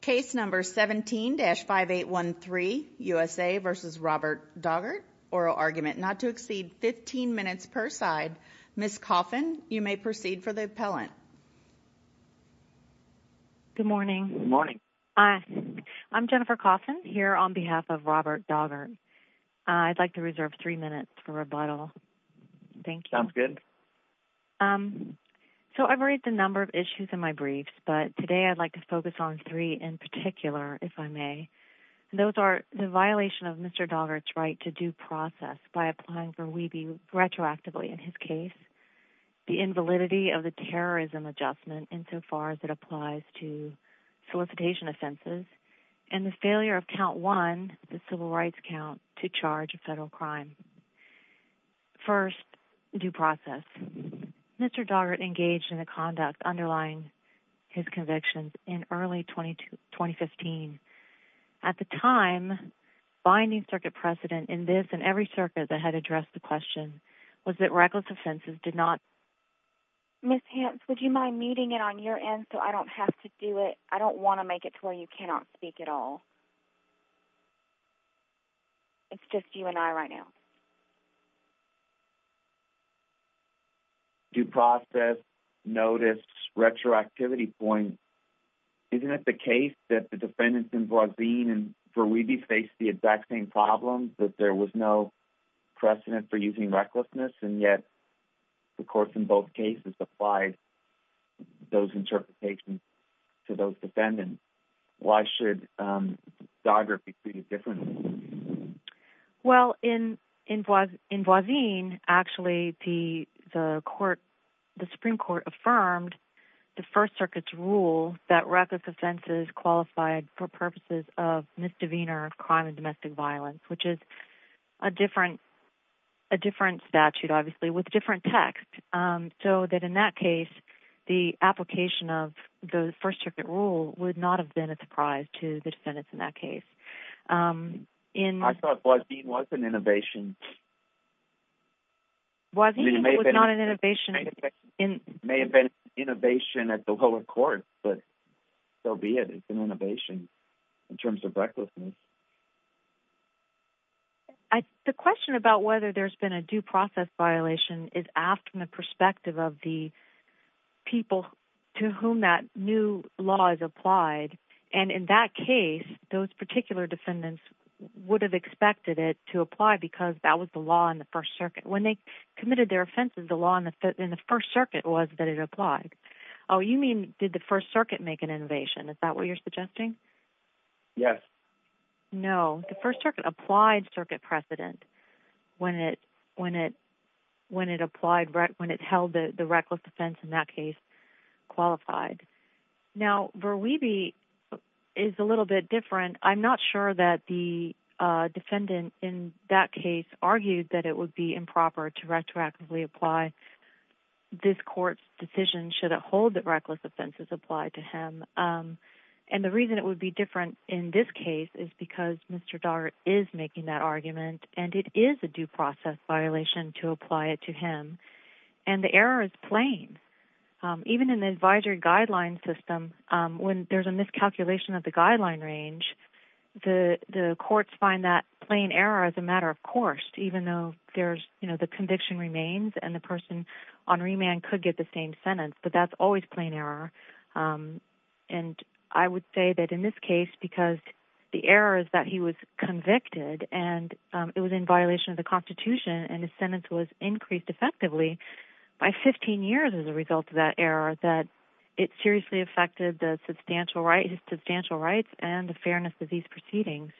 Case number 17-5813, USA v. Robert Doggart. Oral argument not to exceed 15 minutes per side. Ms. Coffin, you may proceed for the appellant. Good morning. I'm Jennifer Coffin here on behalf of Robert Doggart. I'd like to reserve three minutes for rebuttal. Thank you. Sounds good. So I've read the number of issues in my briefs, but today I'd like to focus on three in particular, if I may. Those are the violation of Mr. Doggart's right to due process by applying for WeBe retroactively in his case, the invalidity of the terrorism adjustment insofar as it applies to solicitation offenses, and the failure of count one, the civil rights count, to charge a federal crime. First, due process. Mr. Doggart engaged in a conduct underlying his convictions in early 2015. At the time, binding circuit precedent in this and every circuit that had addressed the question was that reckless offenses did not... Ms. Hamps, would you mind muting it on your end so I don't have to do it? I don't want to make it to where you cannot speak at all. It's just you and I right now. Due process, notice, retroactivity point. Isn't it the case that the defendants involved in WeBe faced the exact same problem, that there was no precedent for using recklessness, and yet, of course, in both cases applied those interpretations to those defendants? Why should Doggart be treated differently? Well, in Voisin, actually, the Supreme Court affirmed the First Circuit's rule that reckless offenses qualified for purposes of misdemeanor crime and domestic violence, which is a different statute, obviously, with different text, so that in that case, the application of the First Circuit rule would not have been a surprise to the defendants in that case. I thought Voisin was an innovation. Voisin was not an innovation. It may have been an innovation at the lower court, but so be it. It's an innovation in terms of recklessness. The question about whether there's been a due process violation is asked from the perspective of the people to whom that new law is applied, and in that case, those particular defendants would have expected it to apply because that was the law in the First Circuit. When they committed their offenses, the law in the First Circuit was that it applied. Oh, you mean did the First Circuit make an innovation? Is that what you're suggesting? Yes. No, the First Circuit applied circuit precedent when it held the reckless offense in that case qualified. Now, Verweeby is a little bit different. I'm not sure that the defendant in that case argued that it would be improper to retroactively apply this court's decision should it hold that reckless offenses apply to him, and the reason it would be different in this case is because Mr. Dart is making that argument, and it is a due process violation to apply it to him, and the error is plain. Even in the advisory guideline system, when there's a miscalculation of the guideline range, the courts find that plain error as a matter of course, even though the conviction remains and the person on remand could get the same sentence, but that's always plain error, and I would say that in this case, because the error is that he was convicted, and it was in violation of the Constitution, and his sentence was increased effectively by 15 years as a result of that error, that it seriously affected his substantial rights and the fairness of these proceedings.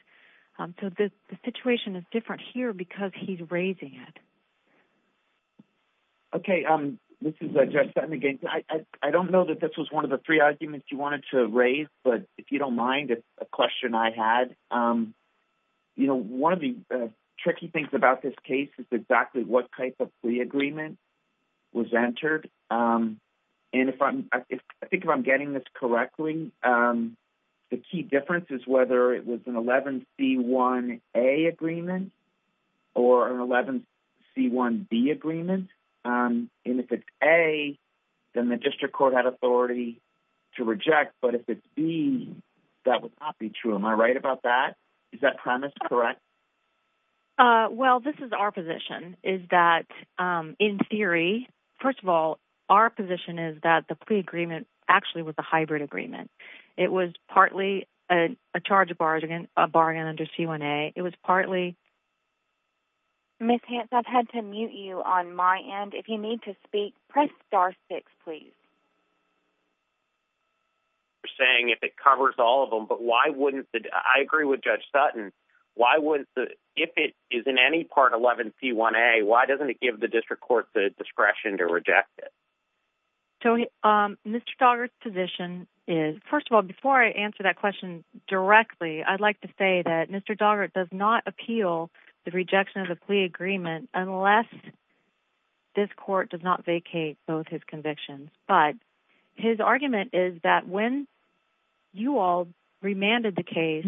So the situation is different here because he's raising it. Okay. This is Jeff Sutton again. I don't know that this was one of the three arguments you wanted to raise, but if you don't mind, it's a question I had. You know, one of the tricky things about this case is exactly what type of plea agreement was entered, and I think if I'm getting this correctly, the key difference is whether it was an 11C1A agreement or an 11C1B agreement, and if it's A, then the district court had authority to reject, but if it's B, that would not be true. Am I right about that? Is that premise correct? Well, this is our position, is that in theory, first of all, our position is that the plea agreement actually was a hybrid agreement. It was partly a charge bargain under C1A. It was partly… Ms. Hance, I've had to mute you on my end. If you need to speak, press star six, please. You're saying if it covers all of them, but why wouldn't the…I agree with Judge Sutton. Why wouldn't the…if it is in any part of 11C1A, why doesn't it give the district court the discretion to reject it? Tony, Mr. Doggart's position is…first of all, before I answer that question directly, I'd like to say that Mr. Doggart does not appeal the rejection of the plea agreement unless this court does not vacate both his convictions, but his argument is that when you all remanded the case,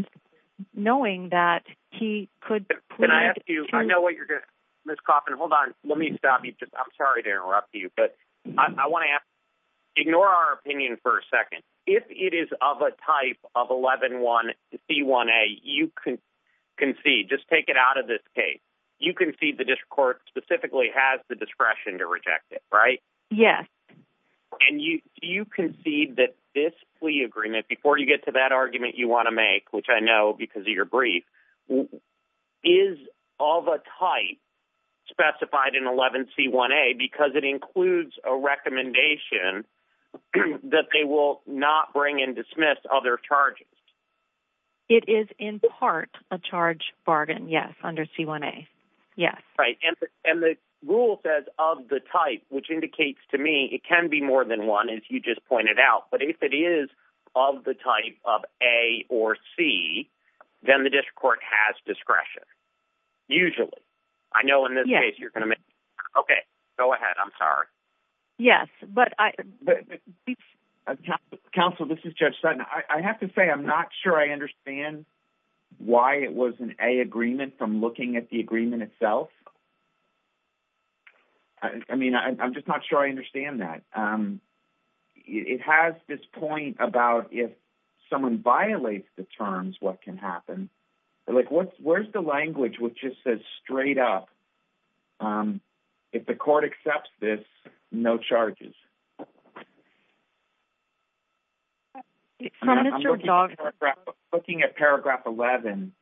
knowing that he could… Can I ask you…I know what you're going to…Ms. Coffin, hold on. Let me stop you. I'm sorry to interrupt you, but I want to ask…ignore our opinion for a second. If it is of a type of 11C1A, you concede. Just take it out of this case. You concede the district court specifically has the discretion to reject it, right? Yes. And you concede that this plea agreement, before you get to that argument you want to make, which I know because of your brief, is of a type specified in 11C1A because it includes a recommendation that they will not bring and dismiss other charges. It is in part a charge bargain, yes, under C1A. Yes. Right. And the rule says of the type, which indicates to me it can be more than one, as you just pointed out. But if it is of the type of A or C, then the district court has discretion, usually. I know in this case you're going to make… Yes. Okay. Go ahead. I'm sorry. Yes, but I… Counsel, this is Judge Sutton. I have to say I'm not sure I understand why it was an A agreement from looking at the agreement itself. I mean, I'm just not sure I understand that. It has this point about if someone violates the terms, what can happen. Like, where's the language which just says straight up, if the court accepts this, no charges? I'm looking at paragraph 11,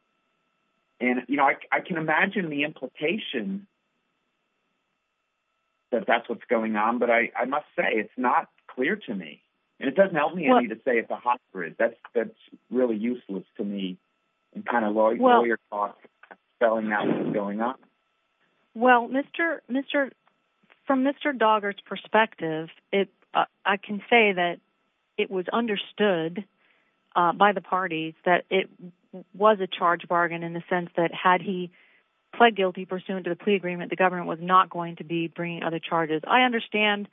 and, you know, I can imagine the implication that that's what's going on, but I must say it's not clear to me, and it doesn't help me to say it's a hot grid. That's really useless to me in kind of lawyer talk, spelling out what's going on. Well, from Mr. Doggart's perspective, I can say that it was understood by the parties that it was a charge bargain in the sense that had he pled guilty pursuant to the plea agreement, the government was not going to be bringing other charges. I understand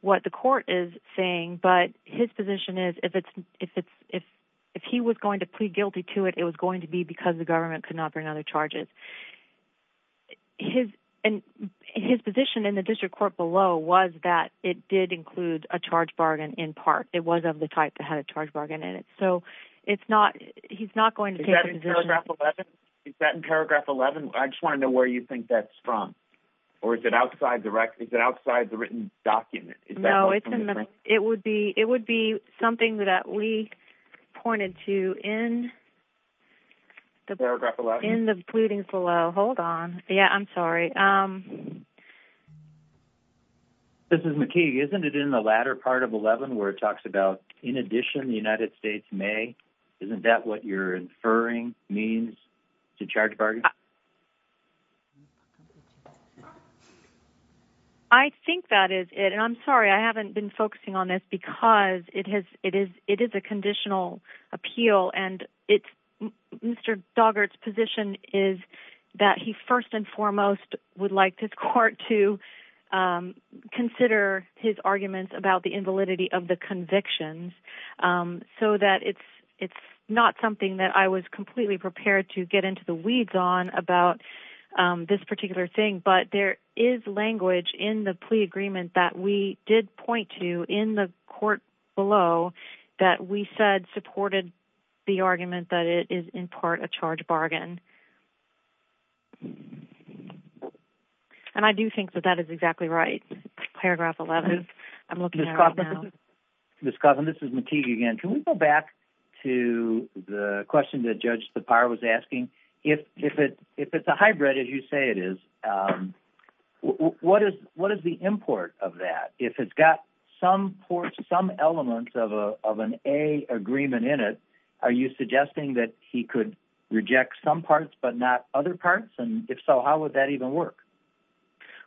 what the court is saying, but his position is if he was going to plead guilty to it, it was going to be because the government could not bring other charges. His position in the district court below was that it did include a charge bargain in part. It was of the type that had a charge bargain in it, so he's not going to take the position. Is that in paragraph 11? Is that in paragraph 11? I just want to know where you think that's from. Or is it outside the written document? No, it would be something that we pointed to in the pleadings below. Hold on. Yeah, I'm sorry. This is McKee. Isn't it in the latter part of 11 where it talks about, in addition, the United States may? Isn't that what you're inferring means? It's a charge bargain? I think that is it. I'm sorry. I haven't been focusing on this because it is a conditional appeal, and Mr. Doggart's position is that he first and foremost would like this court to consider his arguments about the invalidity of the convictions so that it's not something that I was completely prepared to get into the weeds on about this particular thing, but there is language in the plea agreement that we did point to in the court below that we said supported the argument that it is in part a charge bargain. And I do think that that is exactly right. Paragraph 11. I'm looking at it right now. Ms. Cousin, this is McKee again. Can we go back to the question that Judge Tappara was asking? If it's a hybrid, as you say it is, what is the import of that? If it's got some elements of an A agreement in it, are you suggesting that he could reject some parts but not other parts? And if so, how would that even work?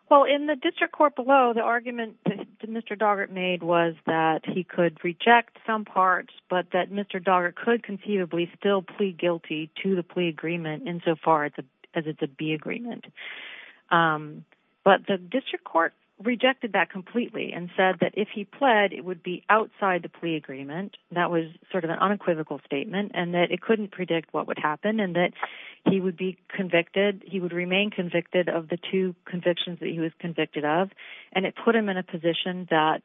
Well, in the district court below, the argument that Mr. Doggart made was that he could reject some parts but that Mr. Doggart could conceivably still plea guilty to the plea agreement insofar as it's a B agreement. But the district court rejected that completely and said that if he pled, it would be outside the plea agreement. That was sort of an unequivocal statement and that it couldn't predict what would happen and that he would remain convicted of the two convictions that he was convicted of, and it put him in a position that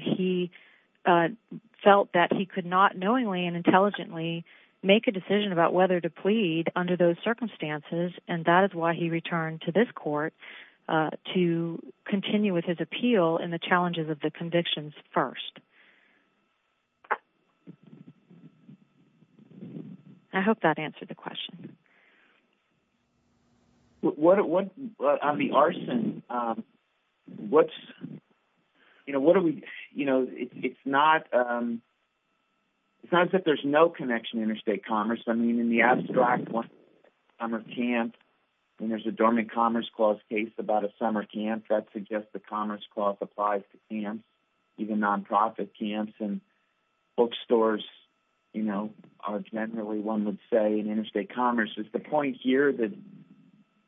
he felt that he could not knowingly and intelligently make a decision about whether to plead under those circumstances, and that is why he returned to this court to continue with his appeal in the challenges of the convictions first. I hope that answered the question. On the arson, it's not that there's no connection to interstate commerce. I mean, in the abstract, one summer camp, when there's a dormant commerce clause case about a summer camp, that suggests the commerce clause applies to camps, even non-profit camps, and bookstores are generally, one would say, an interstate commerce. Is the point here that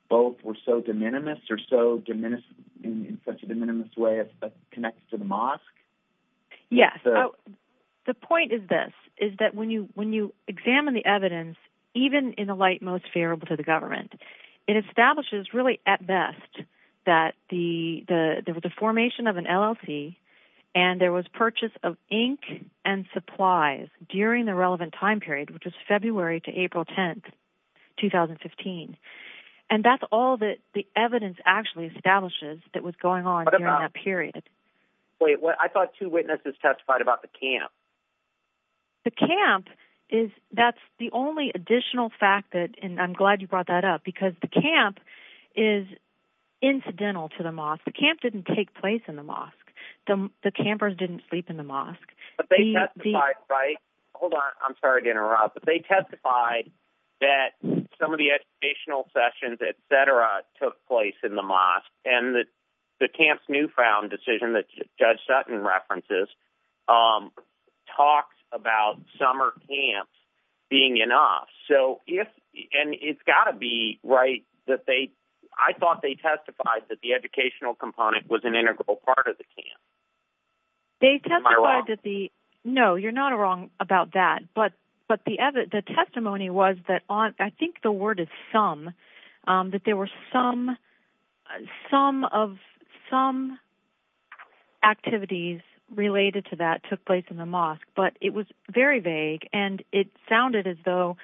both were so de minimis or so in such a de minimis way that it connects to the mosque? Yes. The point is this, is that when you examine the evidence, even in the light most favorable to the government, it establishes really at best that there was a formation of an LLT, and there was purchase of ink and supplies during the relevant time period, which was February to April 10, 2015, and that's all that the evidence actually establishes that was going on during that period. Wait, I thought two witnesses testified about the camp. The camp, that's the only additional fact, and I'm glad you brought that up, because the camp is incidental to the mosque. The camp didn't take place in the mosque. The campers didn't sleep in the mosque. But they testified, right? Hold on. I'm sorry to interrupt. But they testified that some of the educational sessions, et cetera, took place in the mosque, and the camp's newfound decision that Judge Sutton references talks about summer camps being enough. And it's got to be right that they—I thought they testified that the educational component was an integral part of the camp. They testified that the— Am I wrong? No, you're not wrong about that. But the testimony was that—I think the word is some—that there were some activities related to that took place in the mosque, but it was very vague, and it sounded as though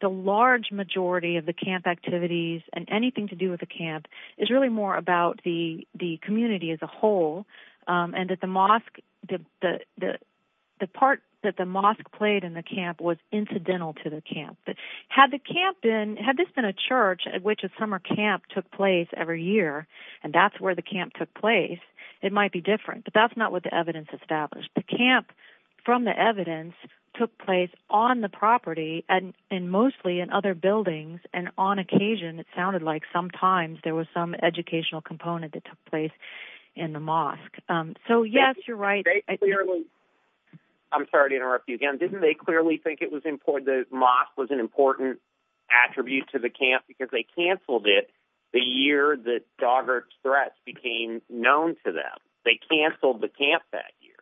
the large majority of the camp activities and anything to do with the camp is really more about the community as a whole, and that the mosque—the part that the mosque played in the camp was incidental to the camp. But had the camp been—had this been a church at which a summer camp took place every year, and that's where the camp took place, it might be different. But that's not what the evidence established. The camp, from the evidence, took place on the property and mostly in other buildings, and on occasion it sounded like sometimes there was some educational component that took place in the mosque. So, yes, you're right. I'm sorry to interrupt you again. Didn't they clearly think it was important—the mosque was an important attribute to the camp because they canceled it the year that Doggart's threats became known to them? They canceled the camp that year.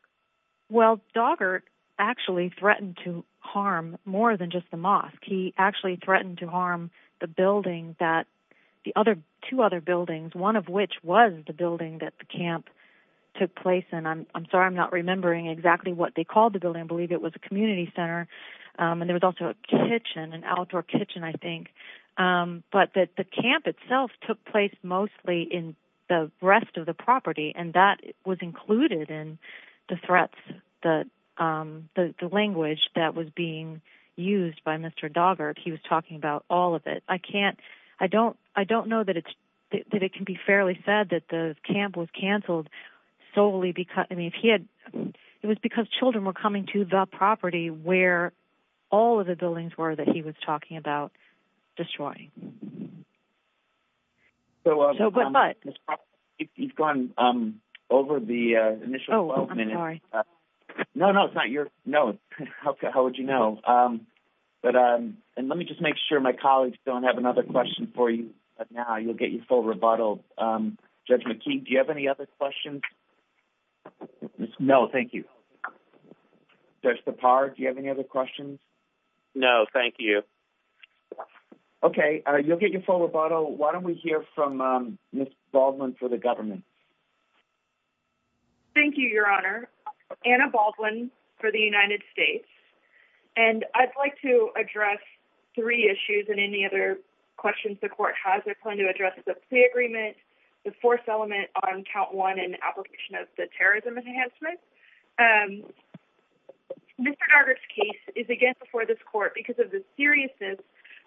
He actually threatened to harm the building that—the other two other buildings, one of which was the building that the camp took place in. I'm sorry I'm not remembering exactly what they called the building. I believe it was a community center, and there was also a kitchen, an outdoor kitchen, I think. But the camp itself took place mostly in the rest of the property, and that was included in the threats, the language that was being used by Mr. Doggart. He was talking about all of it. I can't—I don't know that it can be fairly said that the camp was canceled solely because— I mean, if he had—it was because children were coming to the property where all of the buildings were that he was talking about destroying. So, but— You've gone over the initial 12 minutes. Oh, I'm sorry. No, no, it's not your—no. How would you know? But—and let me just make sure my colleagues don't have another question for you now. You'll get your full rebuttal. Judge McKee, do you have any other questions? No, thank you. Judge Sipar, do you have any other questions? No, thank you. Okay. You'll get your full rebuttal. Why don't we hear from Ms. Baldwin for the government? Thank you, Your Honor. Anna Baldwin for the United States. And I'd like to address three issues and any other questions the court has. I plan to address the plea agreement, the force element on count one and the application of the terrorism enhancement. Mr. Daugherty's case is again before this court because of the seriousness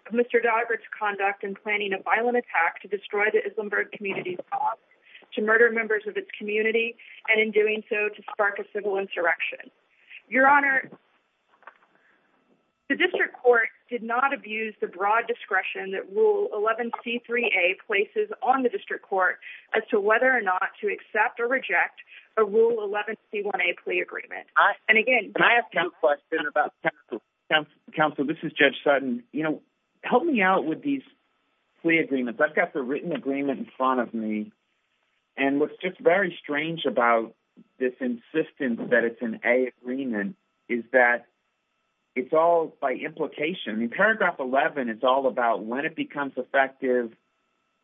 of Mr. Daugherty's conduct in planning a violent attack to destroy the Islenberg community's cause, to murder members of its community, and in doing so to spark a civil insurrection. Your Honor, the district court did not abuse the broad discretion that Rule 11C3A places on the district court as to whether or not to accept or reject a Rule 11C1A plea agreement. Can I ask a question about counsel? Counsel, this is Judge Sutton. You know, help me out with these plea agreements. I've got the written agreement in front of me, and what's just very strange about this insistence that it's an A agreement is that it's all by implication. In paragraph 11, it's all about when it becomes effective,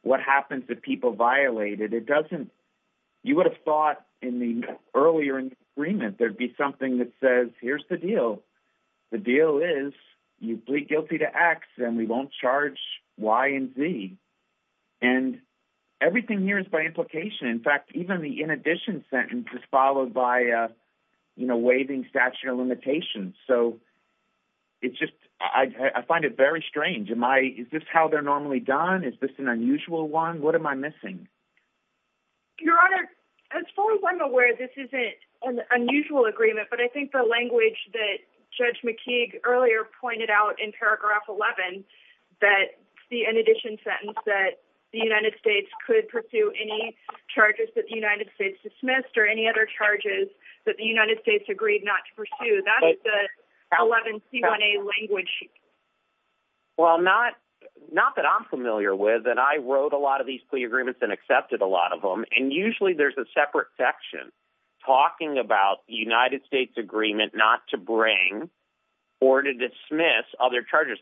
what happens if people violate it. It doesn't—you would have thought in the earlier agreement there would be something that says, here's the deal. The deal is you plead guilty to X and we won't charge Y and Z. And everything here is by implication. In fact, even the in addition sentence is followed by a waving statute of limitations. So it's just—I find it very strange. Is this how they're normally done? Is this an unusual one? What am I missing? Your Honor, as far as I'm aware, this isn't an unusual agreement, but I think the language that Judge McKeague earlier pointed out in paragraph 11, that the in addition sentence that the United States could pursue any charges that the United States dismissed or any other charges that the United States agreed not to pursue, that's the 11C1A language. Well, not that I'm familiar with. And I wrote a lot of these plea agreements and accepted a lot of them. And usually there's a separate section talking about the United States agreement not to bring or to dismiss other charges.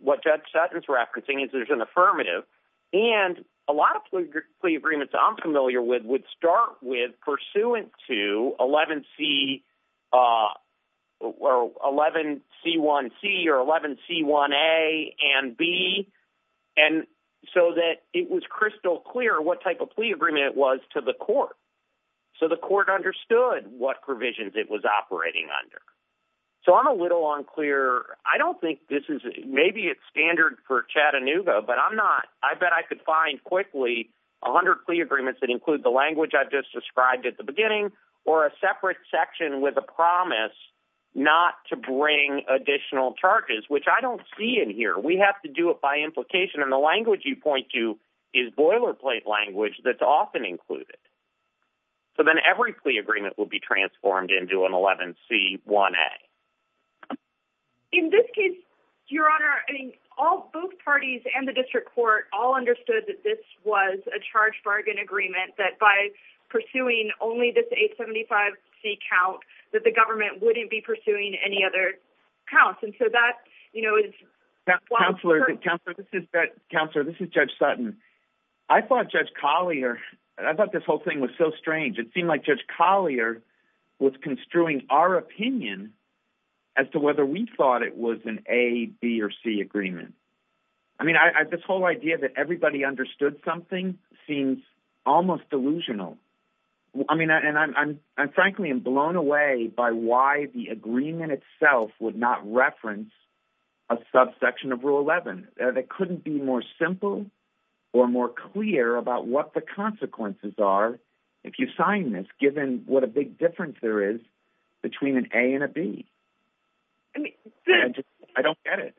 What Judge Sutton's referencing is there's an affirmative. And a lot of plea agreements I'm familiar with would start with pursuant to 11C1C or 11C1A and B so that it was crystal clear what type of plea agreement it was to the court so the court understood what provisions it was operating under. So I'm a little unclear. I don't think this is it. Maybe it's standard for Chattanooga, but I'm not. I bet I could find quickly 100 plea agreements that include the language I just described at the beginning or a separate section with a promise not to bring additional charges, which I don't see in here. We have to do it by implication. And the language you point to is boilerplate language that's often included. So then every plea agreement will be transformed into an 11C1A. In this case, Your Honor, both parties and the district court all understood that this was a charge-bargain agreement, that by pursuing only this 875C count, that the government wouldn't be pursuing any other counts. And so that, you know, is why— Counselor, this is Judge Sutton. I thought Judge Collier—I thought this whole thing was so strange. It seemed like Judge Collier was construing our opinion as to whether we thought it was an A, B, or C agreement. I mean, this whole idea that everybody understood something seems almost delusional. I mean, and I'm frankly blown away by why the agreement itself would not reference a subsection of Rule 11. That couldn't be more simple or more clear about what the consequences are if you sign this, given what a big difference there is between an A and a B. I don't get it.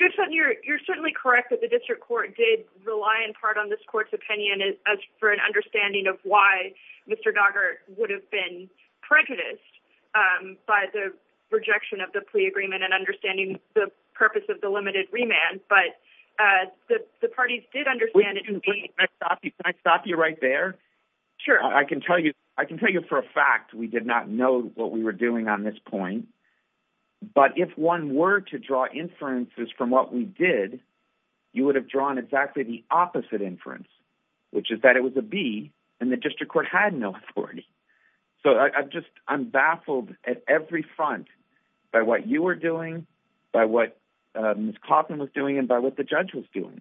Judge Sutton, you're certainly correct that the district court did rely in part on this court's opinion as for an understanding of why Mr. Doggart would have been prejudiced by the rejection of the plea agreement and understanding the purpose of the limited remand. But the parties did understand— Can I stop you right there? Sure. I can tell you for a fact we did not know what we were doing on this point. But if one were to draw inferences from what we did, you would have drawn exactly the opposite inference, which is that it was a B and the district court had no authority. So I'm baffled at every front by what you were doing, by what Ms. Coffman was doing, and by what the judge was doing.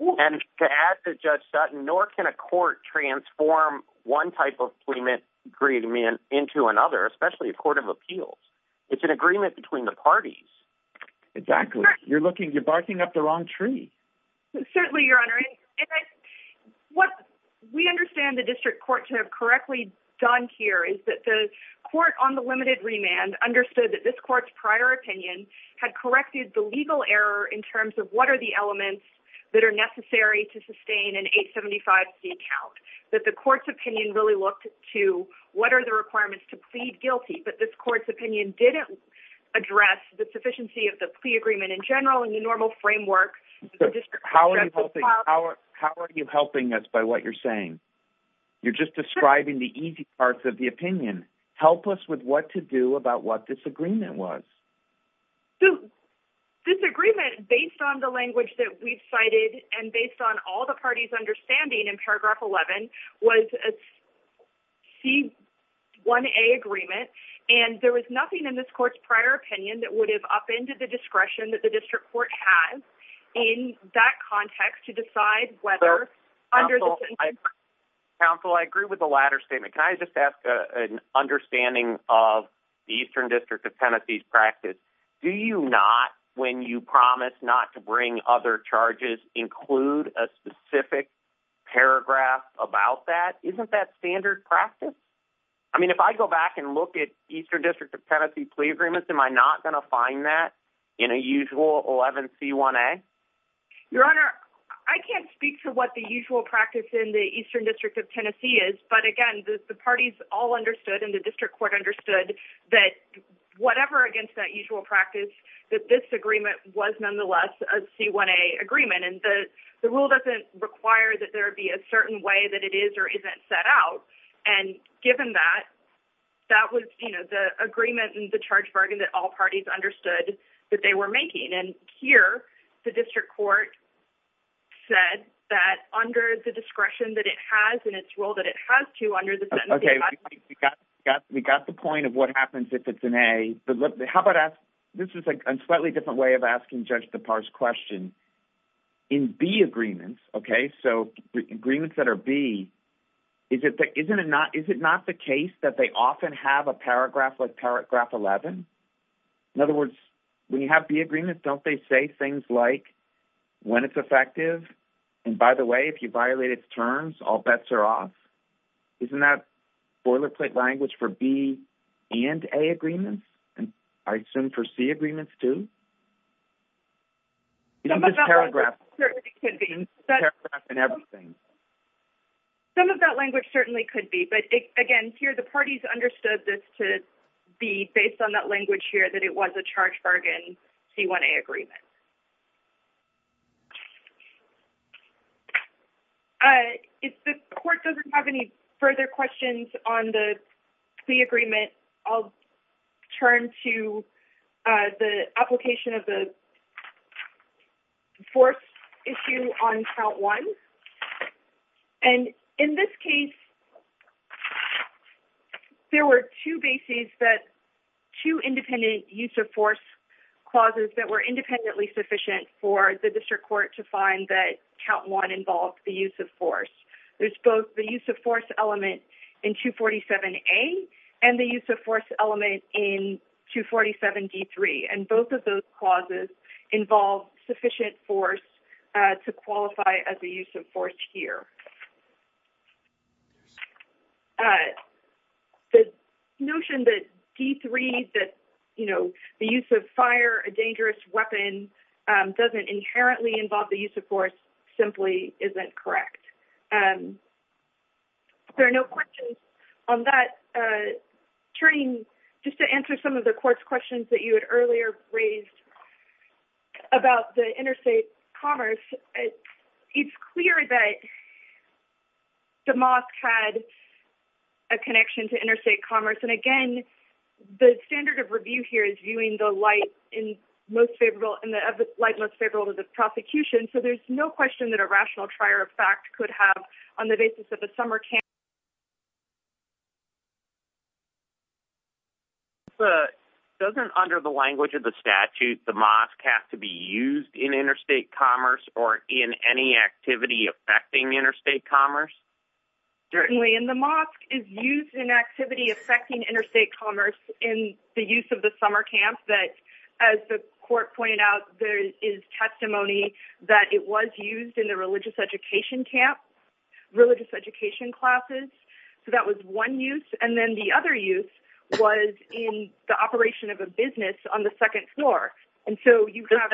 And to add to Judge Sutton, nor can a court transform one type of plea agreement into another, especially a court of appeals. It's an agreement between the parties. Exactly. You're barking up the wrong tree. Certainly, Your Honor. What we understand the district court to have correctly done here is that the court on the limited remand understood that this court's prior opinion had corrected the legal error in terms of what are the elements that are necessary to sustain an 875C count. That the court's opinion really looked to what are the requirements to plead guilty, but this court's opinion didn't address the sufficiency of the plea agreement in general in the normal framework. How are you helping us by what you're saying? You're just describing the easy parts of the opinion. Help us with what to do about what this agreement was. This agreement, based on the language that we've cited and based on all the parties' understanding in paragraph 11, was a C1A agreement, and there was nothing in this court's prior opinion that would have upended the discretion that the district court has in that context to decide whether, under the... Counsel, I agree with the latter statement. Can I just ask an understanding of the Eastern District of Tennessee's practice? Do you not, when you promise not to bring other charges, include a specific paragraph about that? Isn't that standard practice? I mean, if I go back and look at Eastern District of Tennessee plea agreements, am I not going to find that in a usual 11C1A? Your Honor, I can't speak to what the usual practice in the Eastern District of Tennessee is, but again, the parties all understood and the district court understood that whatever against that usual practice, that this agreement was nonetheless a C1A agreement, and the rule doesn't require that there be a certain way that it is or isn't set out. And given that, that was, you know, the agreement and the charge bargain that all parties understood that they were making. And here, the district court said that under the discretion that it has in its rule that it has to under the... Okay, we got the point of what happens if it's an A. But how about ask...this is a slightly different way of asking Judge DePauw's question. In B agreements, okay, so agreements that are B, isn't it not the case that they often have a paragraph like paragraph 11? In other words, when you have B agreements, don't they say things like, when it's effective, and by the way, if you violate its terms, all bets are off? Isn't that boilerplate language for B and A agreements? And I assume for C agreements, too? You know, this paragraph and everything. Some of that language certainly could be, but again, here, the parties understood this to be, based on that language here, that it was a charge bargain C1A agreement. If the court doesn't have any further questions on the C agreement, I'll turn to the application of the force issue on count one. And in this case, there were two bases that... for the district court to find that count one involved the use of force. There's both the use of force element in 247A and the use of force element in 247D3, and both of those clauses involve sufficient force to qualify as a use of force here. The notion that D3, that, you know, the use of fire, a dangerous weapon, doesn't inherently involve the use of force simply isn't correct. There are no questions on that. Turning just to answer some of the court's questions that you had earlier raised about the interstate commerce, it's clear that DeMosque had a connection to interstate commerce, and again, the standard of review here is viewing the light most favorable to the prosecution, so there's no question that a rational trier of fact could have, on the basis of a summer camp... But doesn't, under the language of the statute, DeMosque have to be used in interstate commerce or in any activity affecting interstate commerce? Certainly, and DeMosque is used in activity affecting interstate commerce in the use of the summer camp that, as the court pointed out, there is testimony that it was used in the religious education camp, religious education classes. So that was one use. And then the other use was in the operation of a business on the second floor. And so you have...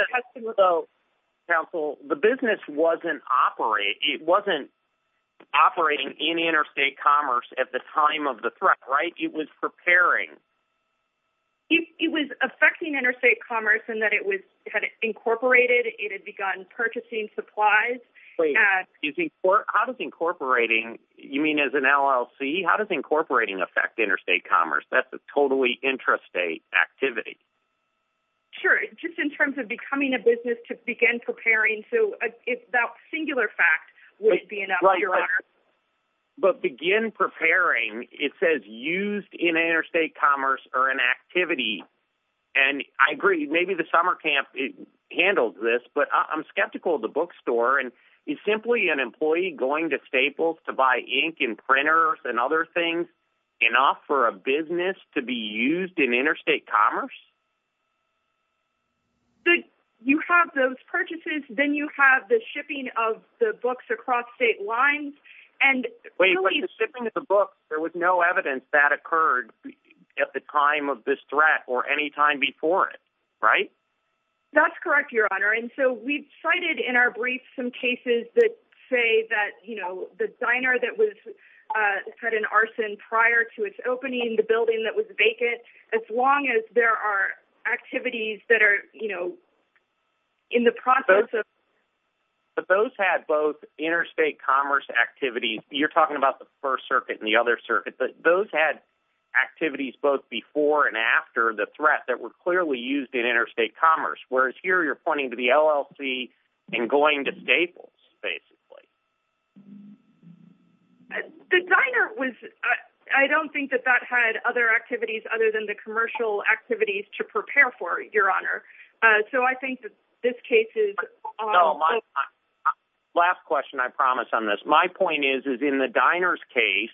Counsel, the business wasn't operating in interstate commerce at the time of the threat, right? It was preparing. It was affecting interstate commerce in that it had incorporated. It had begun purchasing supplies. How does incorporating, you mean as an LLC, how does incorporating affect interstate commerce? That's a totally intrastate activity. Sure, just in terms of becoming a business to begin preparing. So that singular fact would be enough, Your Honor. But begin preparing, it says used in interstate commerce or in activity, and I agree, maybe the summer camp handled this, but I'm skeptical of the bookstore, and is simply an employee going to Staples to buy ink and printers and other things enough for a business to be used in interstate commerce? You have those purchases. Then you have the shipping of the books across state lines. Wait, but the shipping of the books, there was no evidence that occurred at the time of this threat or any time before it, right? That's correct, Your Honor. And so we've cited in our brief some cases that say that, you know, the diner that had an arson prior to its opening, the building that was vacant, as long as there are activities that are, you know, in the process of ---- But those had both interstate commerce activities. You're talking about the First Circuit and the other circuits, but those had activities both before and after the threat that were clearly used in interstate commerce, whereas here you're pointing to the LLC and going to Staples, basically. The diner was ---- I don't think that that had other activities other than the commercial activities to prepare for, Your Honor. So I think that this case is ---- No, my ---- last question, I promise, on this. My point is, is in the diner's case,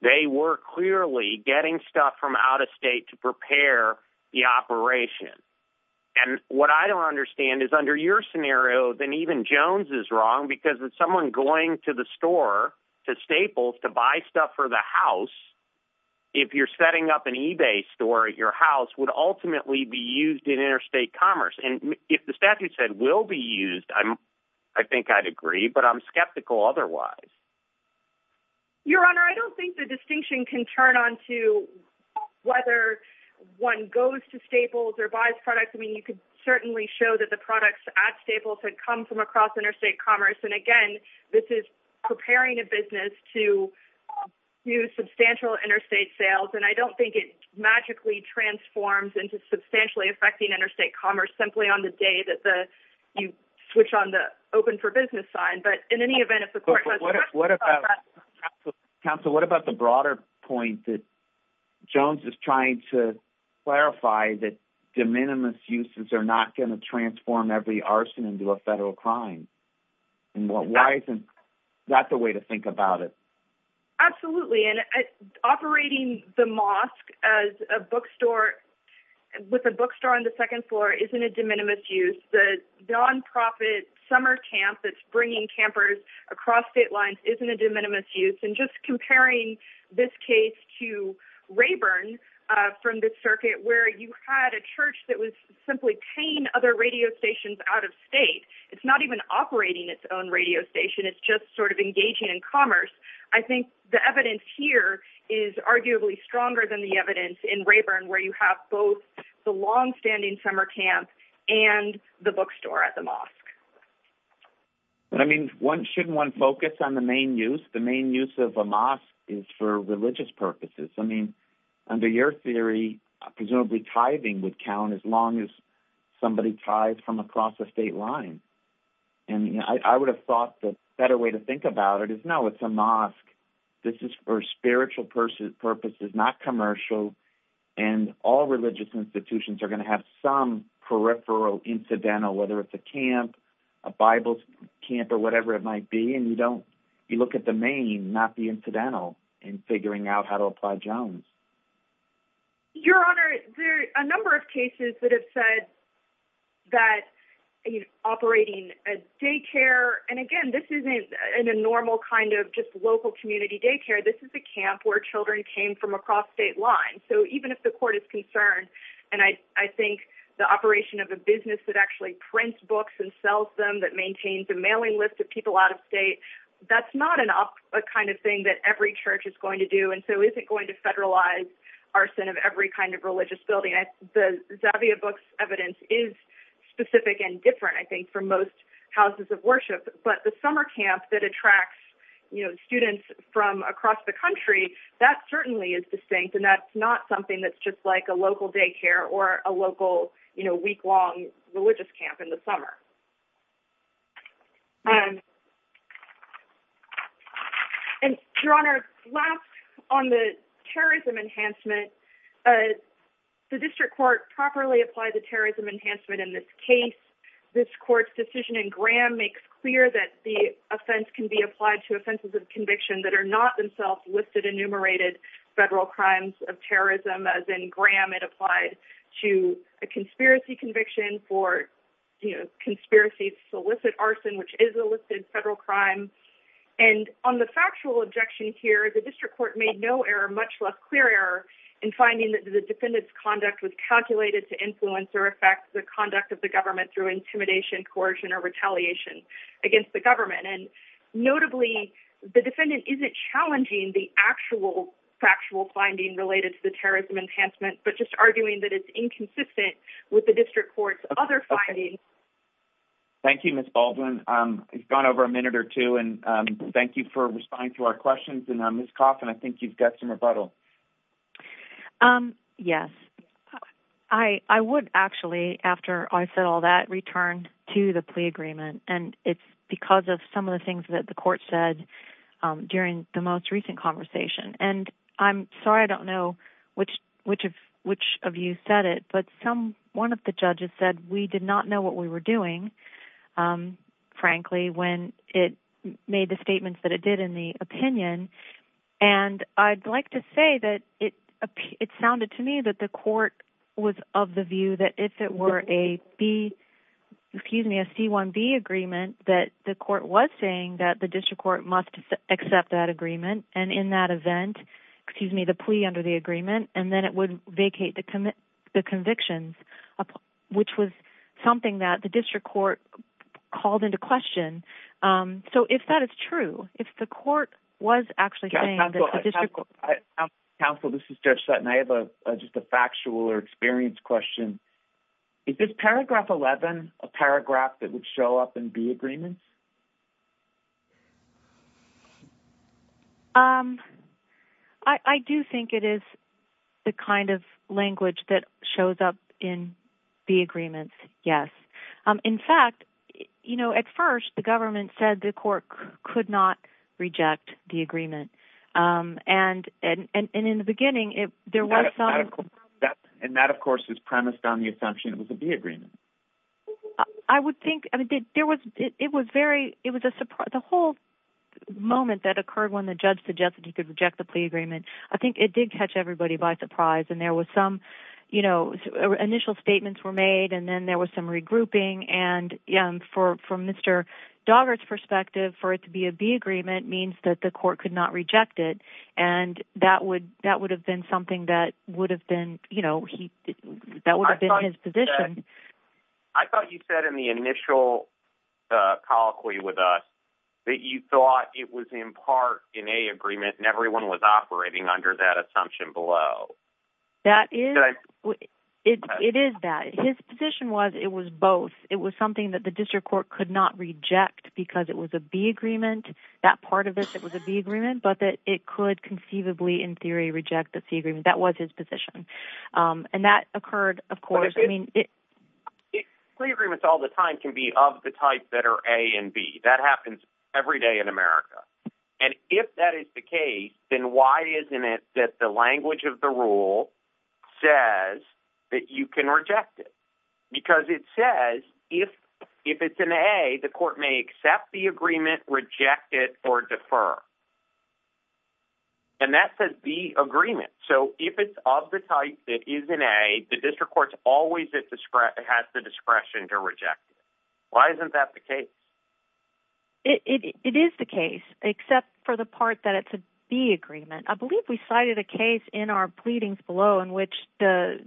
they were clearly getting stuff from out of state to prepare the operation. And what I don't understand is under your scenario, then even Jones is wrong because if someone going to the store to Staples to buy stuff for the house, if you're setting up an eBay store at your house, would ultimately be used in interstate commerce. And if the statute said will be used, I think I'd agree, but I'm skeptical otherwise. Your Honor, I don't think the distinction can turn onto whether one goes to Staples or buys products. I mean, you could certainly show that the products at Staples had come from across interstate commerce. And again, this is preparing a business to use substantial interstate sales. And I don't think it magically transforms into substantially affecting interstate commerce simply on the day that you switch on the open for business sign. But in any event, if the court has a question about that ---- Jones is trying to clarify that de minimis uses are not going to transform every arson into a federal crime. Why isn't that the way to think about it? Absolutely. And operating the mosque as a bookstore, with a bookstore on the second floor, isn't a de minimis use. The nonprofit summer camp that's bringing campers across state lines isn't a de minimis use. And just comparing this case to Rayburn from the circuit, where you had a church that was simply paying other radio stations out of state. It's not even operating its own radio station. It's just sort of engaging in commerce. I think the evidence here is arguably stronger than the evidence in Rayburn, where you have both the longstanding summer camp and the bookstore at the mosque. I mean, shouldn't one focus on the main use? The main use of a mosque is for religious purposes. I mean, under your theory, presumably tithing would count as long as somebody tithes from across the state line. And I would have thought the better way to think about it is, no, it's a mosque. This is for spiritual purposes, not commercial. And all religious institutions are going to have some peripheral incidental, whether it's a camp, a Bible camp, or whatever it might be. And you look at the main, not the incidental, in figuring out how to apply Jones. Your Honor, there are a number of cases that have said that operating a daycare, and again, this isn't a normal kind of just local community daycare. This is a camp where children came from across state lines. And so even if the court is concerned, and I think the operation of a business that actually prints books and sells them, that maintains a mailing list of people out of state, that's not a kind of thing that every church is going to do, and so isn't going to federalize arson of every kind of religious building. The Zavia books' evidence is specific and different, I think, from most houses of worship. But the summer camp that attracts, you know, students from across the country, that certainly is distinct, and that's not something that's just like a local daycare or a local, you know, week-long religious camp in the summer. Your Honor, last on the terrorism enhancement, the district court properly applied the terrorism enhancement in this case. This court's decision in Graham makes clear that the offense can be applied to offenses of conviction that are not themselves listed enumerated federal crimes of terrorism, as in Graham it applied to a conspiracy conviction for conspiracy solicit arson, which is a listed federal crime. And on the factual objection here, the district court made no error, much less clear error, in finding that the defendant's conduct was calculated to influence or affect the conduct of the government through intimidation, coercion, or retaliation against the government. And notably, the defendant isn't challenging the actual factual finding related to the terrorism enhancement, but just arguing that it's inconsistent with the district court's other findings. Thank you, Ms. Baldwin. You've gone over a minute or two, and thank you for responding to our questions. And, Ms. Coffin, I think you've got some rebuttal. Yes. I would actually, after I said all that, return to the plea agreement. And it's because of some of the things that the court said during the most recent conversation. And I'm sorry I don't know which of you said it, but one of the judges said we did not know what we were doing, frankly, when it made the statements that it did in the opinion. And I'd like to say that it sounded to me that the court was of the view that if it were a C-1B agreement, that the court was saying that the district court must accept that agreement, and in that event, the plea under the agreement, and then it would vacate the convictions, which was something that the district court called into question. So if that is true, if the court was actually saying that the district court... Counsel, this is Judge Sutton. I have just a factual or experience question. Is this paragraph 11 a paragraph that would show up in B agreements? I do think it is the kind of language that shows up in B agreements, yes. In fact, at first, the government said the court could not reject the agreement, and in the beginning, there was some... And that, of course, is premised on the assumption it was a B agreement. I would think... It was a surprise. The whole moment that occurred when the judge suggested he could reject the plea agreement, I think it did catch everybody by surprise, and there was some initial statements were made, and then there was some regrouping, and from Mr. Doggart's perspective, for it to be a B agreement means that the court could not reject it, and that would have been something that would have been his position. I thought you said in the initial colloquy with us that you thought it was in part in A agreement and everyone was operating under that assumption below. That is... It is that. His position was it was both. It was something that the district court could not reject because it was a B agreement. That part of it was a B agreement, but that it could conceivably in theory reject the C agreement. That was his position, and that occurred, of course. I mean, plea agreements all the time can be of the type that are A and B. That happens every day in America, and if that is the case, then why isn't it that the language of the rule says that you can reject it? Because it says if it's in A, the court may accept the agreement, reject it, or defer, and that says B agreement. So if it's of the type that is in A, the district court always has the discretion to reject it. Why isn't that the case? It is the case, except for the part that it's a B agreement. I believe we cited a case in our pleadings below in which the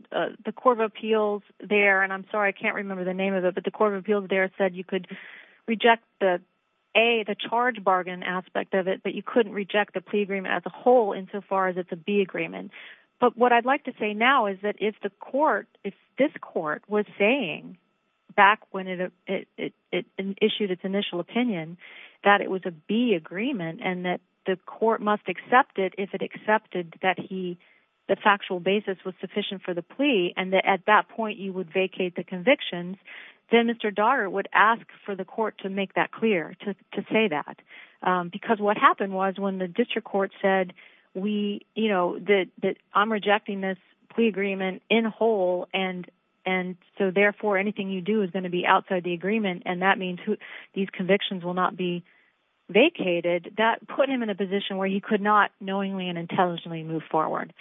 Court of Appeals there, and I'm sorry, I can't remember the name of it, but the Court of Appeals there said you could reject the A, the charge bargain aspect of it, but you couldn't reject the plea agreement as a whole insofar as it's a B agreement. But what I'd like to say now is that if this court was saying back when it issued its initial opinion that it was a B agreement and that the court must accept it if it accepted that the factual basis was sufficient for the plea and that at that point you would vacate the convictions, then Mr. Daugherty would ask for the court to make that clear, to say that. Because what happened was when the district court said that I'm rejecting this plea agreement in whole and so therefore anything you do is going to be outside the agreement and that means these convictions will not be vacated, that put him in a position where he could not knowingly and intelligently move forward.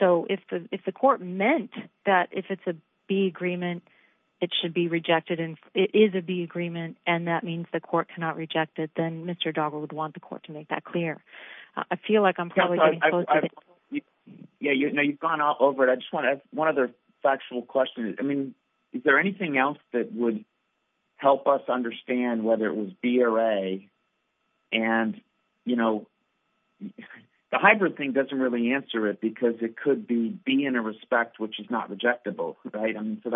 So if the court meant that if it's a B agreement it should be rejected, if it is a B agreement and that means the court cannot reject it, then Mr. Daugherty would want the court to make that clear. I feel like I'm probably getting close to it. Yeah, you've gone all over it. I just want to ask one other factual question. I mean, is there anything else that would help us understand whether it was B or A? And, you know, the hybrid thing doesn't really answer it because it could be B in a respect which is not rejectable, right? So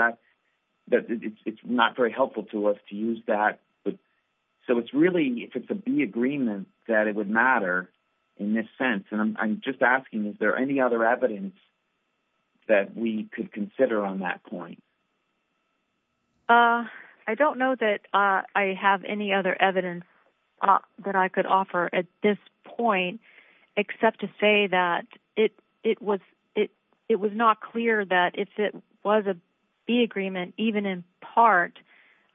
it's not very helpful to us to use that. So it's really if it's a B agreement that it would matter in this sense. And I'm just asking is there any other evidence that we could consider on that point? I don't know that I have any other evidence that I could offer at this point except to say that it was not clear that if it was a B agreement, even in part,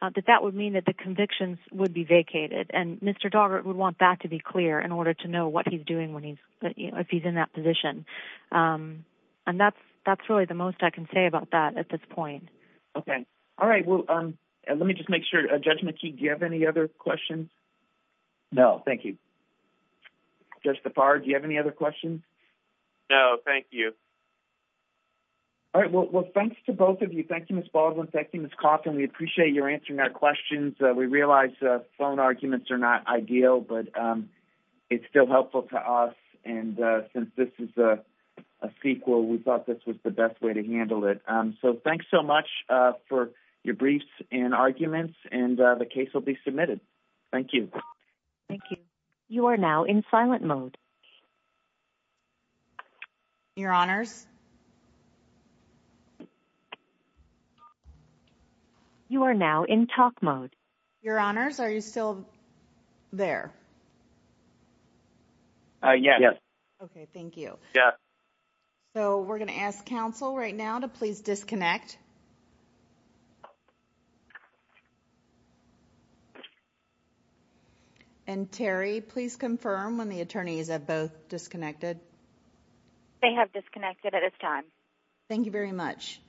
that that would mean that the convictions would be vacated. And Mr. Daugherty would want that to be clear in order to know what he's doing if he's in that position. And that's really the most I can say about that at this point. Okay. All right, well, let me just make sure. Judge McKee, do you have any other questions? No, thank you. Judge DePard, do you have any other questions? No, thank you. All right, well, thanks to both of you. Thank you, Ms. Baldwin. Thank you, Ms. Coffin. We appreciate your answering our questions. We realize phone arguments are not ideal, but it's still helpful to us. And since this is a CEQA, we thought this was the best way to handle it. Thank you. Thank you. You are now in silent mode. Your Honors. You are now in talk mode. Your Honors, are you still there? Yes. Okay, thank you. Yes. So we're going to ask counsel right now to please disconnect. And Terry, please confirm when the attorneys have both disconnected. They have disconnected at this time. Thank you very much.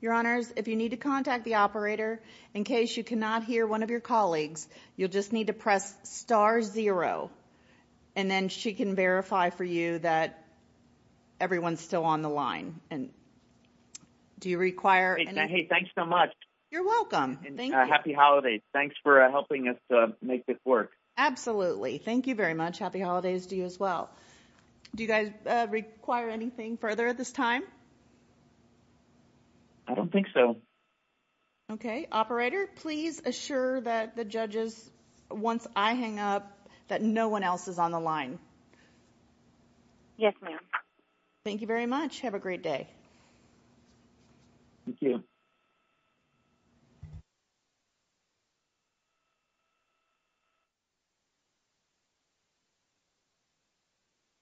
Your Honors, if you need to contact the operator, in case you cannot hear one of your colleagues, you'll just need to press star zero, and then she can verify for you that everyone's still on the line. And do you require anything? Hey, thanks so much. You're welcome. And happy holidays. Thanks for helping us make this work. Absolutely. Thank you very much. Happy holidays to you as well. Do you guys require anything further at this time? I don't think so. Okay, operator, please assure that the judges, once I hang up, that no one else is on the line. Yes, ma'am. Thank you very much. Have a great day. Thank you.